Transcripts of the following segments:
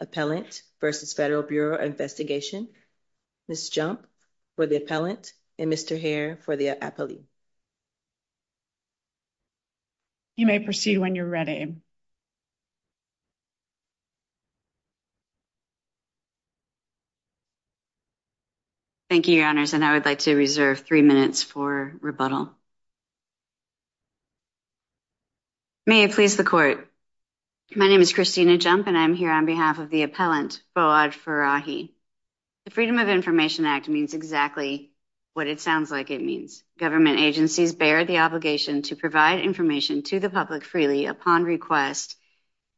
Appellant v. Federal Bureau of Investigation, Ms. Jump for the appellant, and Mr. Hare for the appellee. You may proceed when you're ready. Thank you, Your Honors, and I would like to reserve three minutes for rebuttal. May it please the court. My name is Christina Jump and I'm here on behalf of the appellant, Boad Farahi. The Freedom of Information Act means exactly what it sounds like it means. Government agencies bear the obligation to provide information to the public freely upon request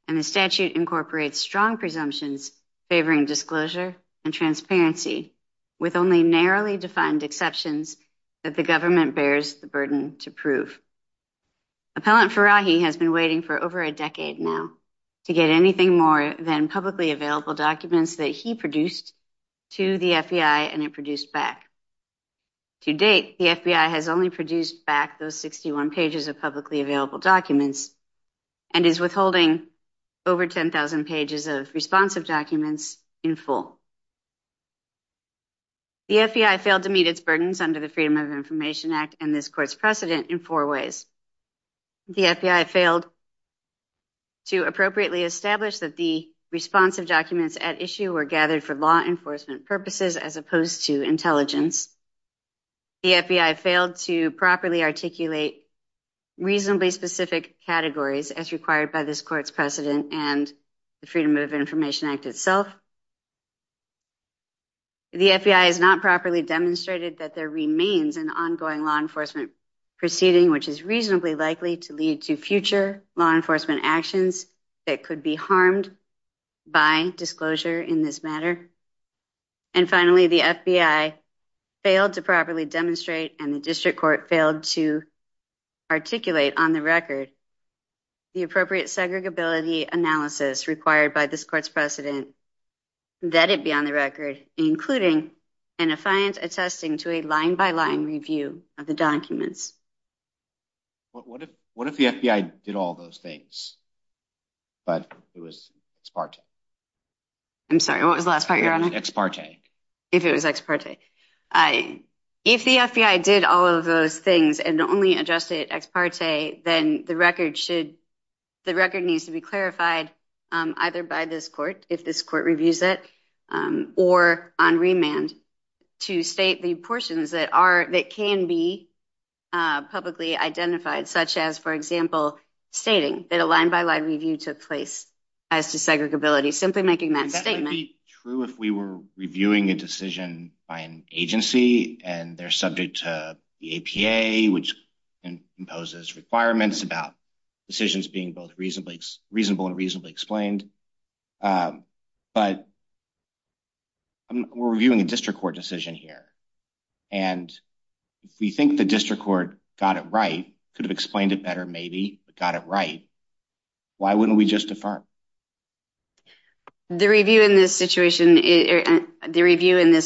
and the statute incorporates strong presumptions favoring disclosure and transparency with only narrowly defined exceptions that the government bears the burden to prove. Appellant Farahi has been waiting for over a decade now to get anything more than publicly available documents that he produced to the FBI and it produced back. To date, the FBI has only produced back those 61 pages of publicly available documents and is withholding over 10,000 pages of responsive documents in full. The FBI failed to meet its burdens under the Freedom of Information Act and this court's precedent in four ways. The FBI failed to appropriately establish that the responsive documents at issue were gathered for law enforcement purposes as opposed to intelligence. The FBI failed to properly articulate reasonably specific categories as required by this court's precedent and the Freedom of Information Act itself. The FBI has not properly demonstrated that there remains an ongoing law enforcement proceeding which is reasonably likely to lead to future law enforcement actions that could be harmed by disclosure in this matter. And finally, the FBI failed to properly demonstrate and the district court failed to articulate on the record the appropriate segregability analysis required by this court's precedent that it be on the record including an affiant attesting to a line-by-line review of the documents. What if the FBI did all those things but it was ex parte? I'm sorry, what was the last part, Your Honor? It was ex parte. If it was ex parte. If the FBI did all of those things and only addressed it ex parte, then the record needs to be clarified either by this court, if this court reviews it, or on remand to state the portions that can be publicly identified such as, for example, stating that a line-by-line review took place as to segregability, simply making that statement. That would be true if we were reviewing a decision by an agency and they're subject to the APA which imposes requirements about decisions being both reasonable and reasonably explained. But we're reviewing a district court decision here. And if we think the district court got it right, could have explained it better maybe, but got it right, why wouldn't we just defer? The review in this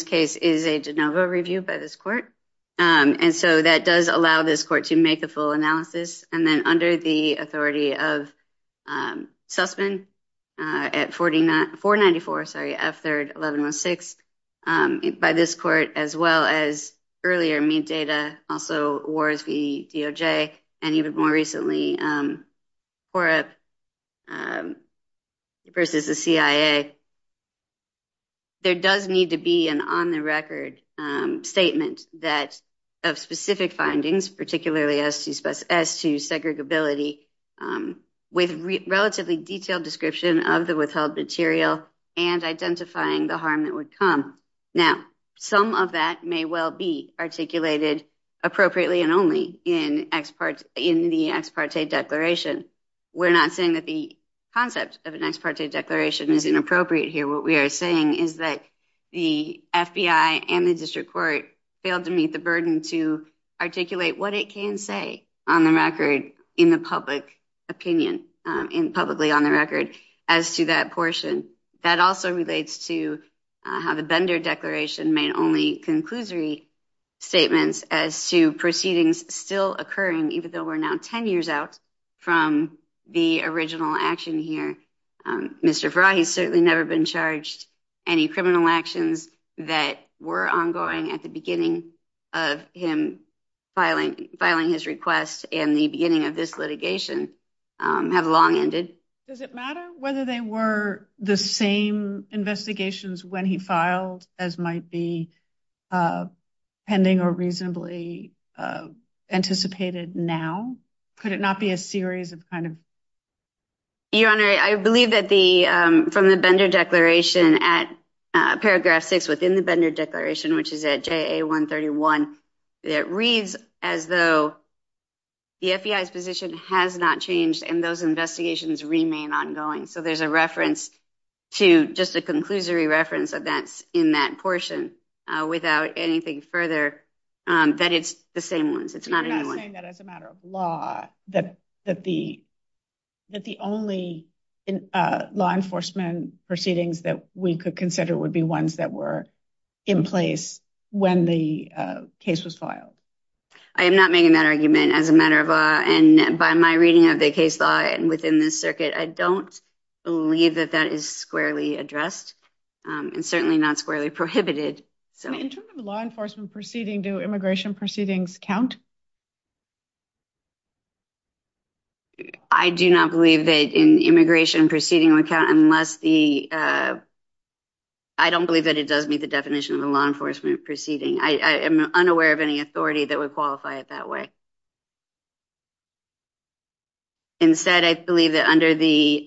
case is a de novo review by this court. And so that does allow this court to make the full analysis. And then under the authority of Sussman at 494, sorry, F3rd 1116, by this court, as well as earlier MEAT data, also WARS v. DOJ, and even more recently COREP versus the CIA, there does need to be an on-the-record statement that of specific findings, particularly as to segregability, with relatively detailed description of the withheld material and identifying the harm that would come. Now, some of that may well be articulated appropriately and only in the ex parte declaration. We're not saying that the concept of an ex parte declaration is inappropriate here. What we are saying is that the FBI and the district court failed to meet the burden to articulate what it can say on the record in the public opinion, publicly on the record, as to that portion. That also relates to how the Bender declaration made only conclusory statements as to proceedings still occurring, even though we're now ten years out from the original action here. Mr. Farahi has certainly never been charged. Any criminal actions that were ongoing at the beginning of him filing his request and the beginning of this litigation have long ended. Does it matter whether they were the same investigations when he filed as might be pending or reasonably anticipated now? Could it not be a series of kind of? Your Honor, I believe that the from the Bender declaration at paragraph six within the Bender declaration, which is at J.A. 131, it reads as though the FBI's position has not changed and those investigations remain ongoing. So there's a reference to just a conclusory reference that's in that portion without anything further, that it's the same ones. It's not saying that as a matter of law, that that the that the only law enforcement proceedings that we could consider would be ones that were in place when the case was filed. I am not making that argument as a matter of and by my reading of the case law and within this circuit, I don't believe that that is squarely addressed and certainly not squarely law enforcement proceeding. Do immigration proceedings count? I do not believe that in immigration proceeding account unless the. I don't believe that it does meet the definition of the law enforcement proceeding. I am unaware of any authority that would qualify it that way. Instead, I believe that under the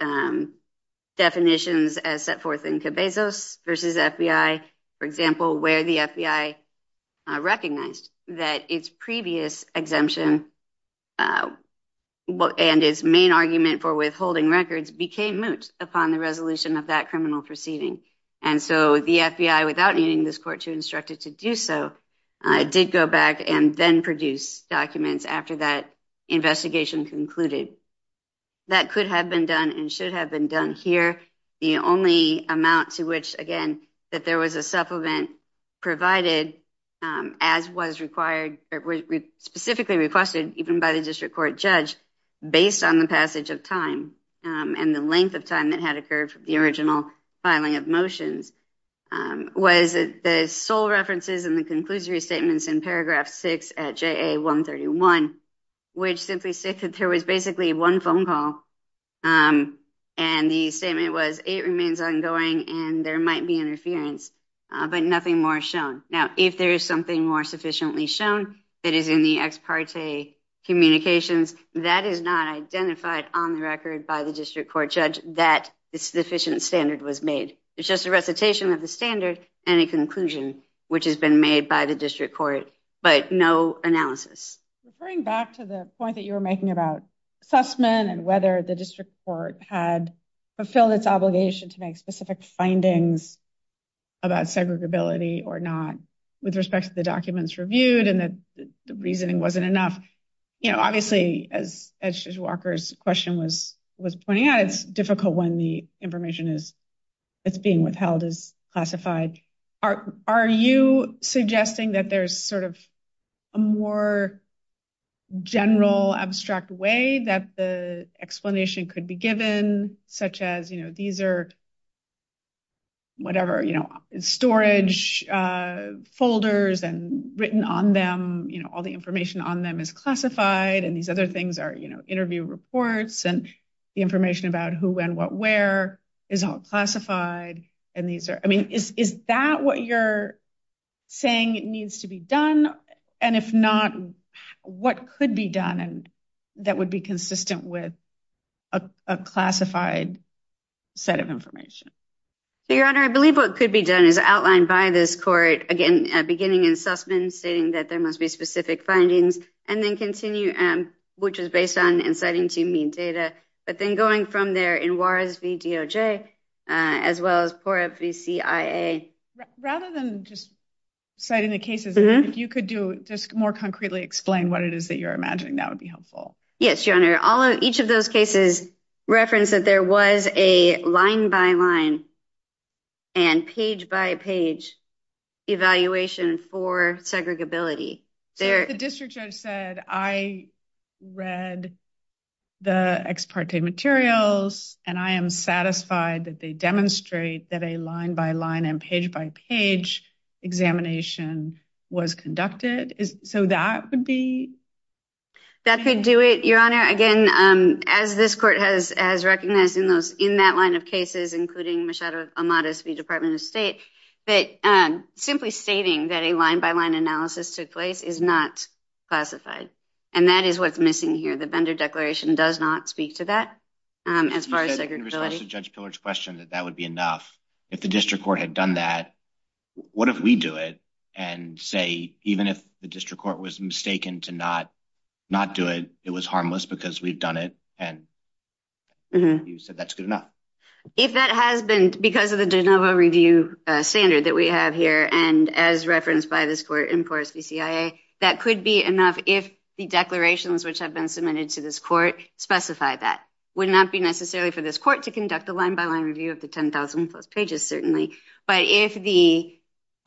definitions as set forth in Cabezas versus FBI, for example, where the FBI recognized that its previous exemption and its main argument for withholding records became moot upon the resolution of that criminal proceeding. And so the FBI, without needing this court to instruct it to do so, did go back and then produce documents after that investigation concluded. That could have been done and should have been done here. The only amount to which, again, that there was a supplement provided as was required or specifically requested even by the district court judge based on the passage of time and the length of time that had occurred from the original filing of motions was the sole references and the conclusory statements in paragraph six at J.A. was it remains ongoing and there might be interference, but nothing more shown. Now, if there is something more sufficiently shown, it is in the ex parte communications that is not identified on the record by the district court judge that this sufficient standard was made. It's just a recitation of the standard and a conclusion which has been made by the district court, but no analysis. Referring back to the point that you were making about Sussman and whether the district court had fulfilled its obligation to make specific findings about segregability or not with respect to the documents reviewed and that the reasoning wasn't enough. You know, obviously, as Walker's question was pointing out, it's difficult when the information is it's being withheld as classified. Are you suggesting that there's sort of a more general abstract way that the explanation could be given such as, you know, these are whatever, you know, storage folders and written on them, you know, all the information on them is classified and these other things are, you know, interview reports and the information about who, when, what, where is all Is that what you're saying needs to be done? And if not, what could be done and that would be consistent with a classified set of information? Your Honor, I believe what could be done is outlined by this court again, beginning in Sussman, stating that there must be specific findings and then continue, which is based on inciting to mean data. But then going from there in Juarez v. DOJ, as well as Pura v. CIA. Rather than just citing the cases, if you could do just more concretely explain what it is that you're imagining, that would be helpful. Yes, Your Honor. All of each of those cases reference that there was a line by line and page by page evaluation for segregability. So if the district judge said, I read the ex parte materials and I am satisfied that they demonstrate that a line by line and page by page examination was conducted. So that would be? That could do it, Your Honor. Again, as this court has recognized in that line of cases, including Machado Amadeus v. Department of State, that simply stating that a line by line analysis took place is not classified. And that is what's missing here. The vendor declaration does not speak to that as far as segregability. You said in response to Judge Pillard's question that that would be enough. If the district court had done that, what if we do it and say, even if the district court was mistaken to not do it, it was harmless because we've done it. And you said that's good enough. If that has been because of the de novo review standard that we have here, and as referenced by this court in Poros v. CIA, that could be enough if the declarations which have been submitted to this court specify that. It would not be necessarily for this court to conduct a line by line review of the 10,000 plus pages, certainly. But if the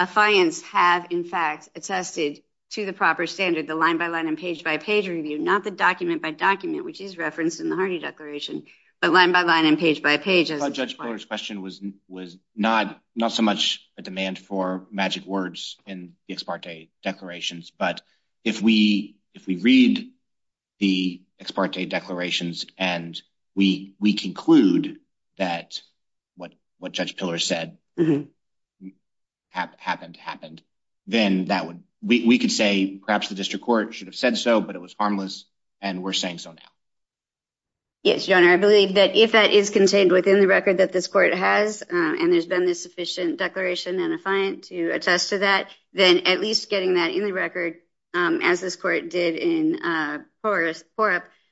affiance have, in fact, attested to the proper standard, the line by line and page by page review, not the document by document, which is referenced in the Hardy declaration, but line by line and page by page. Judge's question was was not not so much a demand for magic words in the ex parte declarations. But if we if we read the ex parte declarations and we we conclude that what what Judge Pillar said happened happened, then that would we could say perhaps the district court should have said so. But it was harmless. And we're saying so now. Yes, your honor. I believe that if that is contained within the record that this court has and there's been this sufficient declaration and affiant to attest to that, then at least getting that in the record, as this court did in Poros,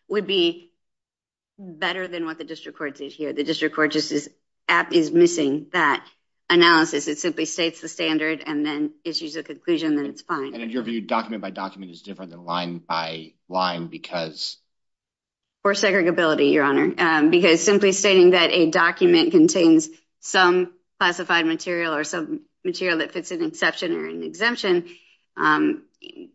would be better than what the district court did here. The district court just is is missing that analysis. It simply states the standard and then issues a conclusion that it's fine. And in your view, document by document is different than line by line because. Or segregability, your honor, because simply stating that a document contains some classified material or some material that fits an exception or an exemption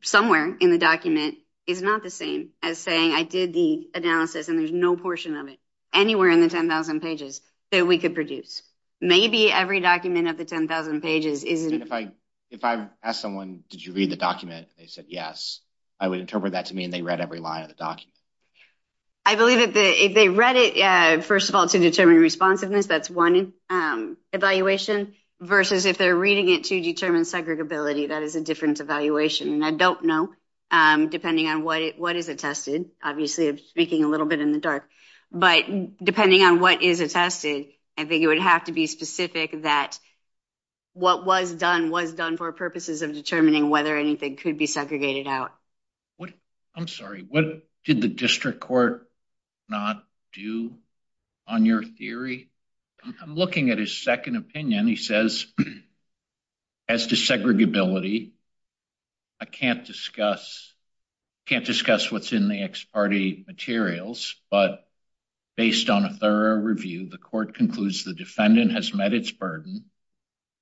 somewhere in the document is not the same as saying I did the analysis and there's no portion of it anywhere in the 10,000 pages that we could produce. Maybe every document of the 10,000 pages is. If I if I ask someone, did you read the document? They said yes. I would interpret that to me. And they read every line of the document. I believe that if they read it, first of all, to determine responsiveness, that's one evaluation versus if they're reading it to determine segregability. That is a different evaluation. And I don't know, depending on what what is attested. Obviously, speaking a little bit in the dark, but depending on what is attested, I think what was done was done for purposes of determining whether anything could be segregated out. What? I'm sorry. What did the district court not do on your theory? I'm looking at his second opinion. He says. As to segregability. I can't discuss can't discuss what's in the ex parte materials, but based on a thorough review, the court concludes the defendant has met its burden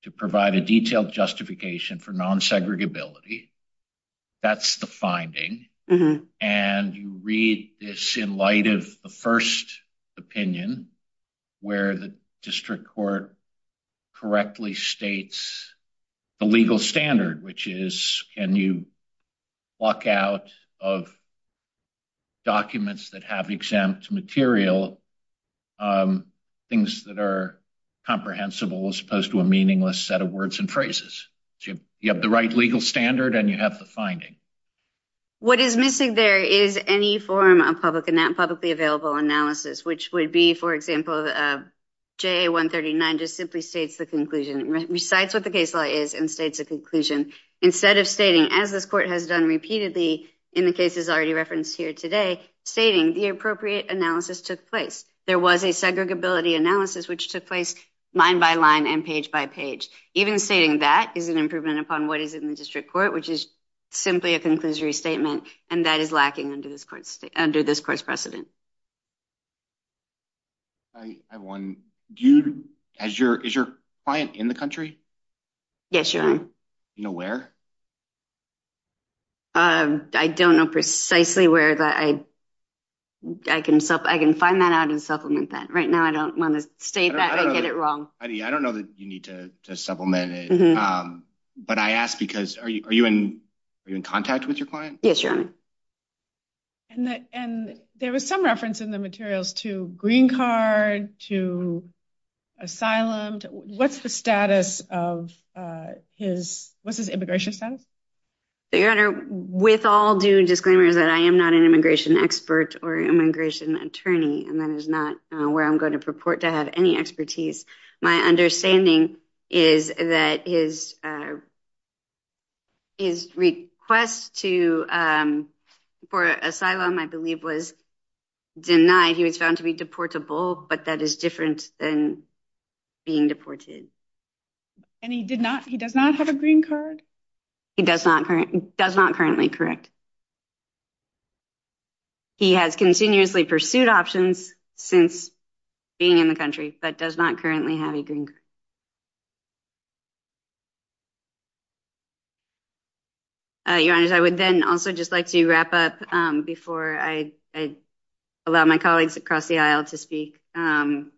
to provide a detailed justification for nonsegregability. That's the finding. And you read this in light of the first opinion where the district court correctly states the legal standard, which is can you walk out of documents that have exempt material, things that are comprehensible as opposed to a meaningless set of words and phrases. You have the right legal standard and you have the finding. What is missing there is any form of publicly available analysis, which would be, for example, JA139 just simply states the conclusion, recites what the case law is and states a conclusion instead of stating, as this court has done repeatedly in the cases already referenced here today, stating the appropriate analysis took place. There was a segregability analysis, which took place line by line and page by page. Even stating that is an improvement upon what is in the district court, which is simply a conclusory statement, and that is lacking under this court's precedent. I have one. Is your client in the country? Yes, you are. You know where? I don't know precisely where. I can find that out and supplement that. Right now I don't want to state that or get it wrong. I don't know that you need to supplement it. But I ask because are you in contact with your client? Yes, you are. And there was some reference in the materials to green card, to asylum. What's the status of his, what's his immigration status? Your Honor, with all due disclaimers that I am not an immigration expert or immigration attorney, and that is not where I'm going to purport to have any expertise. My understanding is that his request for asylum, I believe, was denied. He was found to be deportable, but that is different than being deported. And he does not have a green card? He does not currently, correct. He has continuously pursued options since being in the country, but does not currently have a green card. Your Honor, I would then also just like to wrap up before I allow my colleagues across the aisle to speak and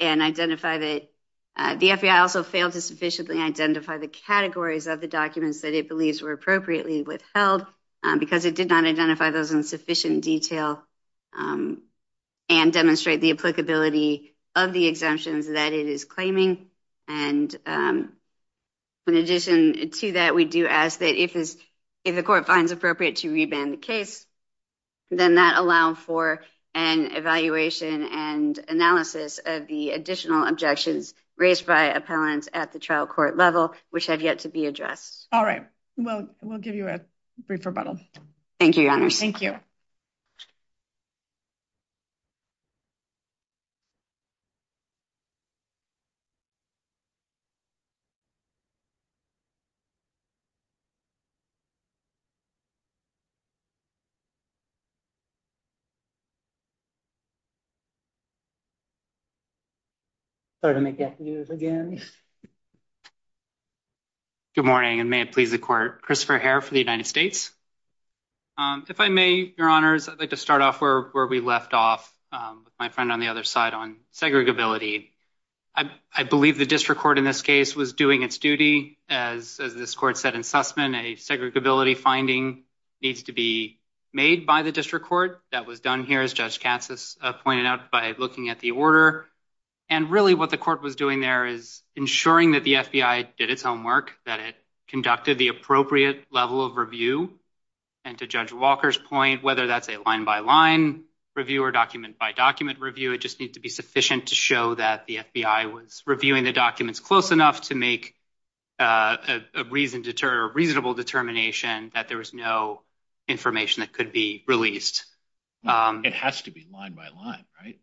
identify that the FBI also failed to sufficiently identify the categories of the documents that it because it did not identify those in sufficient detail and demonstrate the applicability of the exemptions that it is claiming. And in addition to that, we do ask that if the court finds appropriate to reban the case, then that allow for an evaluation and analysis of the additional objections raised by appellants at the trial court level, which have yet to be addressed. All right. We'll give you a brief rebuttal. Thank you, Your Honor. Thank you. Sorry to make you have to do this again. Good morning, and may it please the court. Christopher Herr for the United States. If I may, Your Honors, I'd like to start off where we left off with my friend on the other side on segregability. I believe the district court in this case was doing its duty, as this court said in Sussman, a segregability finding needs to be made by the district court. That was done here, as Judge Katsas pointed out, by looking at the order. And really what the court was doing there is ensuring that the FBI did its homework, that it conducted the appropriate level of review. And to Judge Walker's point, whether that's a line-by-line review or document-by-document review, it just needs to be sufficient to show that the FBI was reviewing the documents close enough to make a reasonable determination that there was no information that could be released. It has to be line-by-line, right?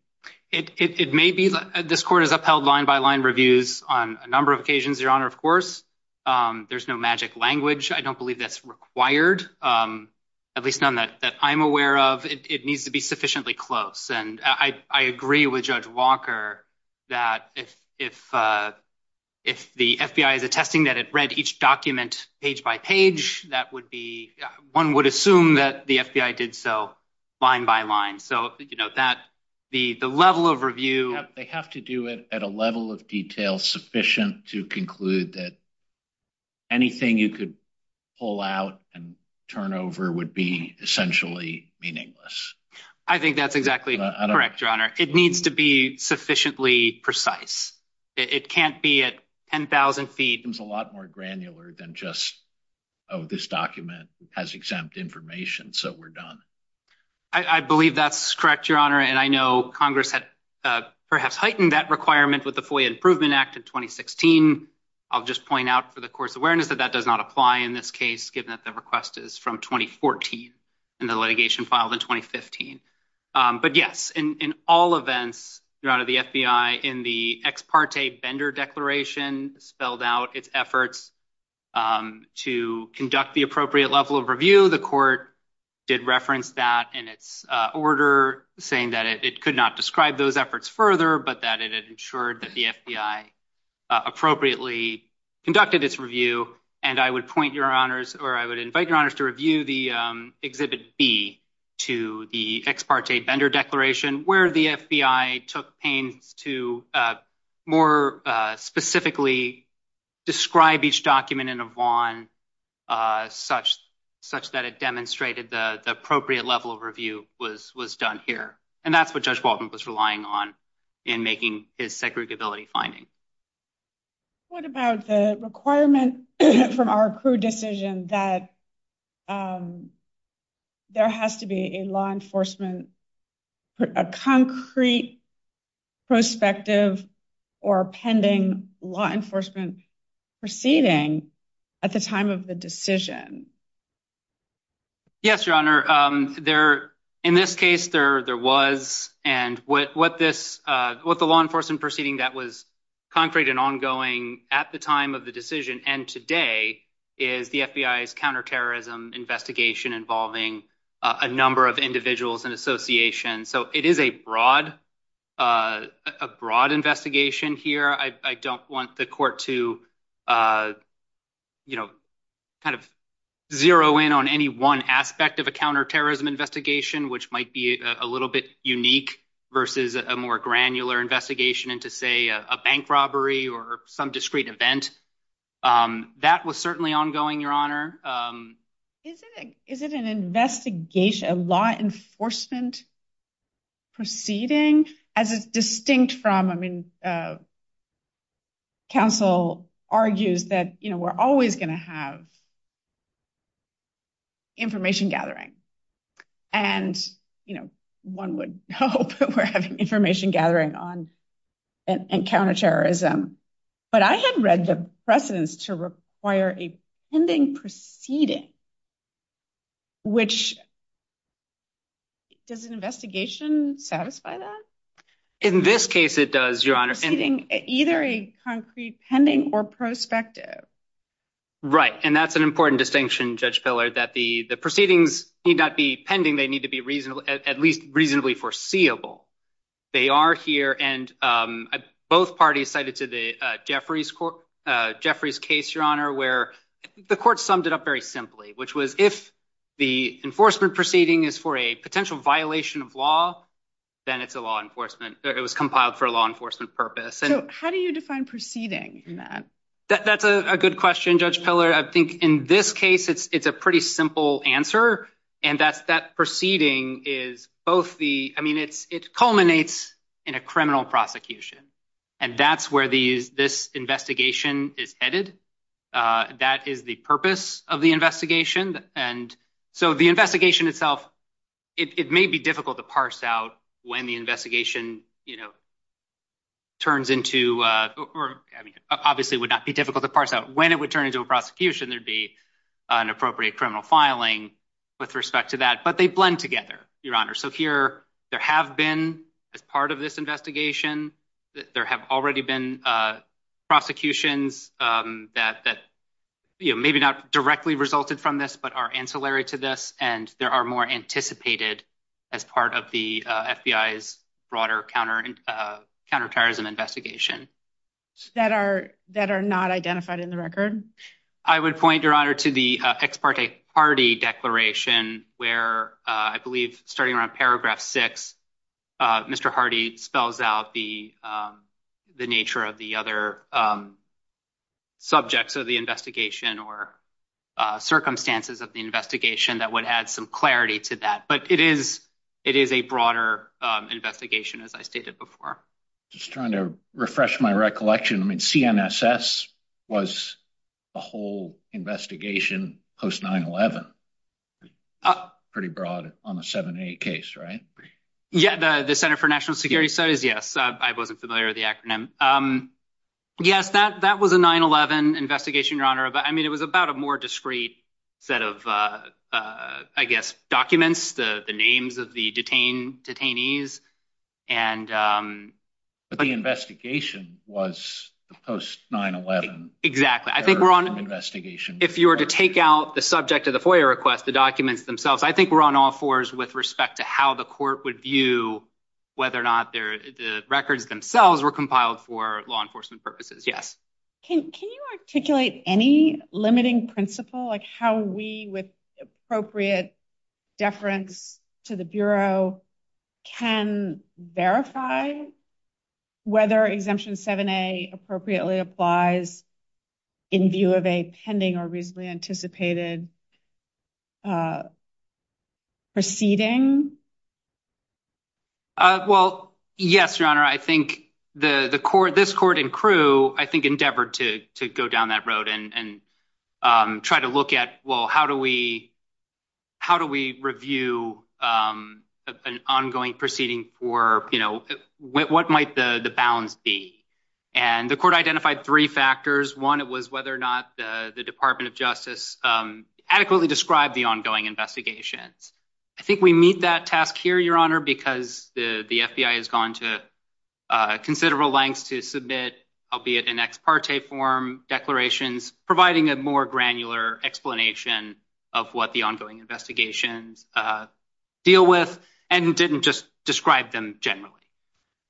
It may be. This court has upheld line-by-line reviews on a number of occasions, Your Honor, of course. There's no magic language. I don't believe that's required, at least none that I'm aware of. It needs to be sufficiently close. And I agree with Judge Walker that if the FBI is attesting that it read each document page-by-page, that would be – one would assume that the FBI did so line-by-line. So, you know, that – the level of review – They have to do it at a level of detail sufficient to conclude that anything you could pull out and turn over would be essentially meaningless. I think that's exactly correct, Your Honor. It needs to be sufficiently precise. It can't be at 10,000 feet. It becomes a lot more granular than just, oh, this document has exempt information, so we're done. I believe that's correct, Your Honor, and I know Congress had perhaps heightened that requirement with the FOIA Improvement Act in 2016. I'll just point out for the court's awareness that that does not apply in this case, given that the request is from 2014 and the litigation filed in 2015. But, yes, in all events, Your Honor, the FBI in the Ex Parte Bender Declaration spelled out its efforts to conduct the appropriate level of review. The court did reference that in its order, saying that it could not describe those efforts further, but that it had ensured that the FBI appropriately conducted its review. And I would point Your Honors – or I would invite Your Honors to review the Exhibit B to the Ex Parte Bender Declaration, where the FBI took pains to more specifically describe each document in a Vaughan such that it demonstrated the appropriate level of review was done here. And that's what Judge Walton was relying on in making his segregability finding. What about the requirement from our accrued decision that there has to be a law enforcement – a concrete prospective or pending law enforcement proceeding at the time of the decision? Yes, Your Honor. There – in this case, there was. And what this – what the law enforcement proceeding that was concrete and ongoing at the time of the decision and today is the FBI's counterterrorism investigation involving a number of individuals and associations. So it is a broad – a broad investigation here. I don't want the court to, you know, kind of zero in on any one aspect of a counterterrorism investigation, which might be a little bit unique versus a more granular investigation into, say, a bank robbery or some discrete event. That was certainly ongoing, Your Honor. Is it an investigation – a law enforcement proceeding? As distinct from – I mean, counsel argues that, you know, we're always going to have information gathering. And, you know, one would hope that we're having information gathering on counterterrorism. But I had read the precedence to require a pending proceeding, which – does an investigation satisfy that? In this case, it does, Your Honor. Either a concrete pending or prospective. Right. And that's an important distinction, Judge Pillar, that the proceedings need not be pending. They need to be at least reasonably foreseeable. They are here, and both parties cited to Jeffrey's case, Your Honor, where the court summed it up very simply, which was if the enforcement proceeding is for a potential violation of law, then it's a law enforcement – it was compiled for a law enforcement purpose. So how do you define proceeding in that? That's a good question, Judge Pillar. I think in this case, it's a pretty simple answer, and that's that proceeding is both the – I mean, it culminates in a criminal prosecution. And that's where this investigation is headed. That is the purpose of the investigation. And so the investigation itself, it may be difficult to parse out when the investigation, you know, turns into – I mean, obviously it would not be difficult to parse out when it would turn into a prosecution. There would be an appropriate criminal filing with respect to that. But they blend together, Your Honor. So here there have been, as part of this investigation, there have already been prosecutions that, you know, maybe not directly resulted from this but are ancillary to this, and there are more anticipated as part of the FBI's broader counterterrorism investigation. That are not identified in the record? I would point, Your Honor, to the Ex parte Hardee declaration where I believe starting around paragraph six, Mr. Hardee spells out the nature of the other subjects of the investigation or circumstances of the investigation that would add some clarity to that. But it is a broader investigation, as I stated before. Just trying to refresh my recollection, I mean, CNSS was a whole investigation post 9-11. Pretty broad on a 7-8 case, right? Yeah, the Center for National Security Studies, yes. I wasn't familiar with the acronym. Yes, that was a 9-11 investigation, Your Honor. But, I mean, it was about a more discreet set of, I guess, documents, the names of the detainees. But the investigation was post 9-11. Exactly. I think if you were to take out the subject of the FOIA request, the documents themselves, I think we're on all fours with respect to how the court would view whether or not the records themselves were compiled for law enforcement purposes. Yes. Can you articulate any limiting principle, like how we, with appropriate deference to the Bureau, can verify whether Exemption 7A appropriately applies in view of a pending or reasonably anticipated proceeding? Well, yes, Your Honor. I think this court and crew, I think, endeavored to go down that road and try to look at, well, how do we review an ongoing proceeding for, you know, what might the bounds be? And the court identified three factors. One, it was whether or not the Department of Justice adequately described the ongoing investigations. I think we meet that task here, Your Honor, because the FBI has gone to considerable lengths to submit, albeit in ex parte form, declarations, providing a more granular explanation of what the ongoing investigations deal with and didn't just describe them generally.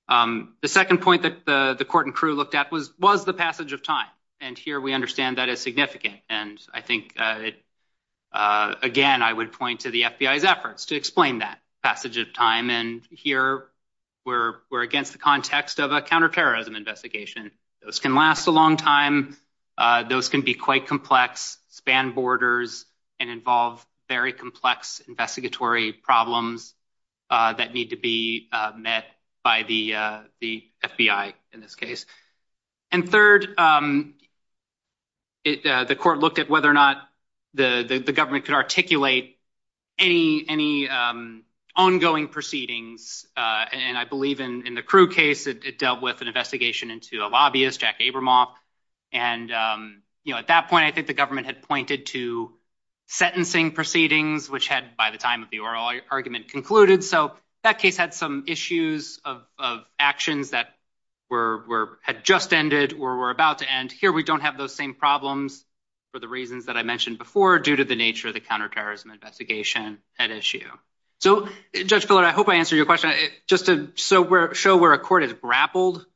The second point that the court and crew looked at was the passage of time. And here we understand that is significant. And I think, again, I would point to the FBI's efforts to explain that passage of time. And here we're against the context of a counterterrorism investigation. Those can last a long time. Those can be quite complex, span borders, and involve very complex investigatory problems that need to be met by the FBI in this case. And third, the court looked at whether or not the government could articulate any ongoing proceedings. And I believe in the crew case, it dealt with an investigation into a lobbyist, Jack Abramoff. And, you know, at that point, I think the government had pointed to sentencing proceedings, which had by the time of the oral argument concluded. So that case had some issues of actions that were had just ended or were about to end. Here we don't have those same problems for the reasons that I mentioned before, due to the nature of the counterterrorism investigation at issue. So, Judge Pillard, I hope I answered your question. Just to show where a court has grappled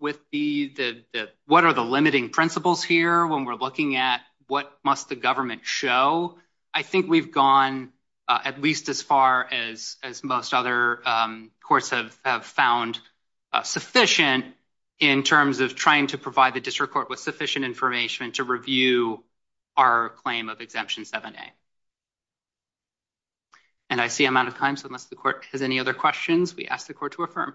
with the what are the limiting principles here when we're looking at what must the government show? I think we've gone at least as far as as most other courts have found sufficient in terms of trying to provide the district court with sufficient information to review our claim of Exemption 7A. And I see I'm out of time, so unless the court has any other questions, we ask the court to affirm.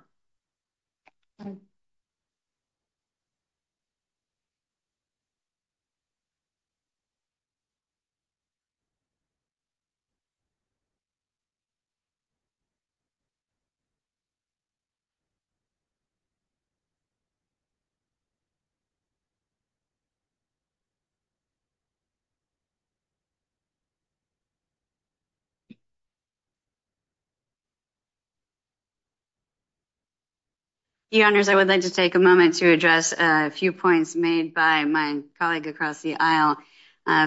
The honors, I would like to take a moment to address a few points made by my colleague across the aisle.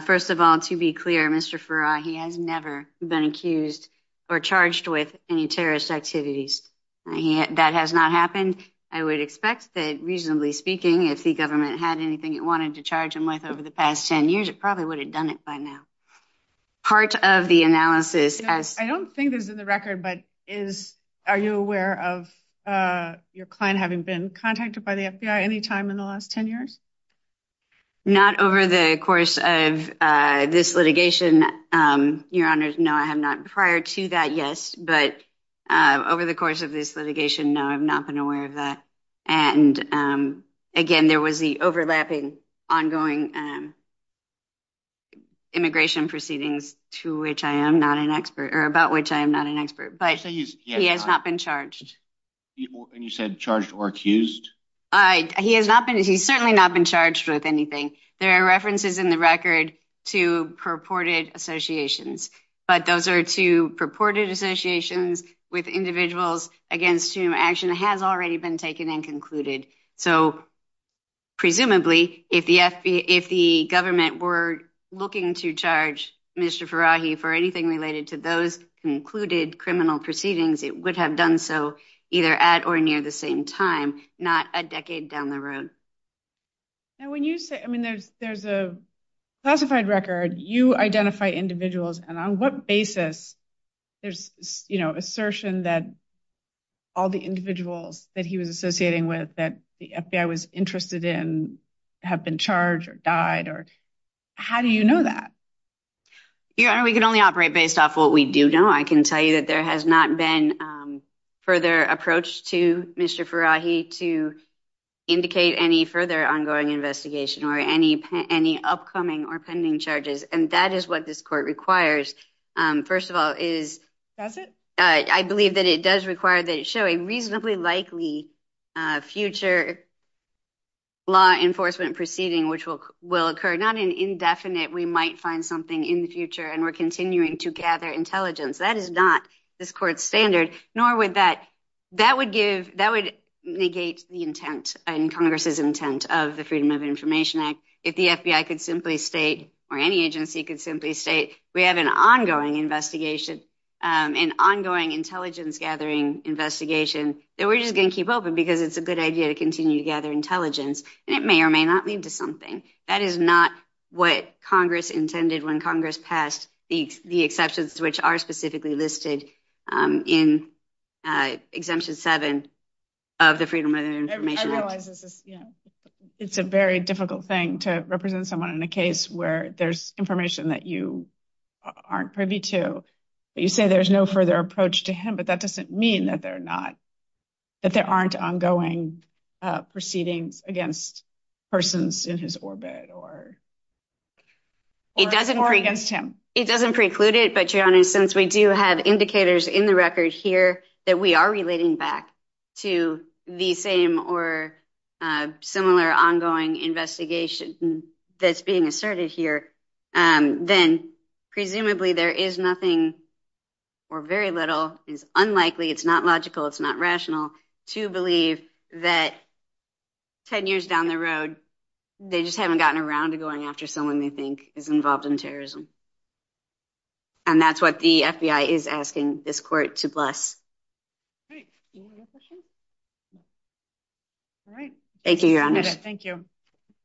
First of all, to be clear, Mr. Farrar, he has never been accused or charged with any terrorist activities that has not happened. I would expect that reasonably speaking, if the government had anything it wanted to charge him with over the past 10 years, it probably would have done it by now. Part of the analysis as... I don't think this is in the record, but are you aware of your client having been contacted by the FBI any time in the last 10 years? Not over the course of this litigation, Your Honors. No, I have not. Prior to that, yes. But over the course of this litigation, no, I've not been aware of that. And again, there was the overlapping ongoing immigration proceedings to which I am not an expert, or about which I am not an expert. But he has not been charged. And you said charged or accused? He's certainly not been charged with anything. There are references in the record to purported associations. But those are two purported associations with individuals against whom action has already been taken and concluded. So, presumably, if the government were looking to charge Mr. Farrahi for anything related to those concluded criminal proceedings, it would have done so either at or near the same time, not a decade down the road. Now, when you say... I mean, there's a classified record. You identify individuals. And on what basis there's, you know, assertion that all the individuals that he was associating with, that the FBI was interested in, have been charged or died? How do you know that? Your Honor, we can only operate based off what we do know. I can tell you that there has not been further approach to Mr. Farrahi to indicate any further ongoing investigation or any upcoming or pending charges. And that is what this court requires. First of all is... Does it? I believe that it does require that it show a reasonably likely future law enforcement proceeding, which will occur, not an indefinite, we might find something in the future, and we're continuing to gather intelligence. That is not this court's standard. Nor would that... That would give... That would negate the intent and Congress's intent of the Freedom of Information Act. If the FBI could simply state, or any agency could simply state, we have an ongoing investigation, an ongoing intelligence-gathering investigation, then we're just going to keep open because it's a good idea to continue to gather intelligence. And it may or may not lead to something. That is not what Congress intended when Congress passed the exceptions, which are specifically listed in Exemption 7 of the Freedom of Information Act. It's a very difficult thing to represent someone in a case where there's information that you aren't privy to. You say there's no further approach to him, but that doesn't mean that there aren't ongoing proceedings against persons in his orbit or against him. It doesn't preclude it, but your Honor, since we do have indicators in the record here that we are relating back to the same or similar ongoing investigation that's being asserted here, then presumably there is nothing, or very little, it's unlikely, it's not logical, it's not rational, to believe that 10 years down the road, they just haven't gotten around to going after someone they think is involved in terrorism. And that's what the FBI is asking this court to bless. Thank you, Your Honor. Thank you.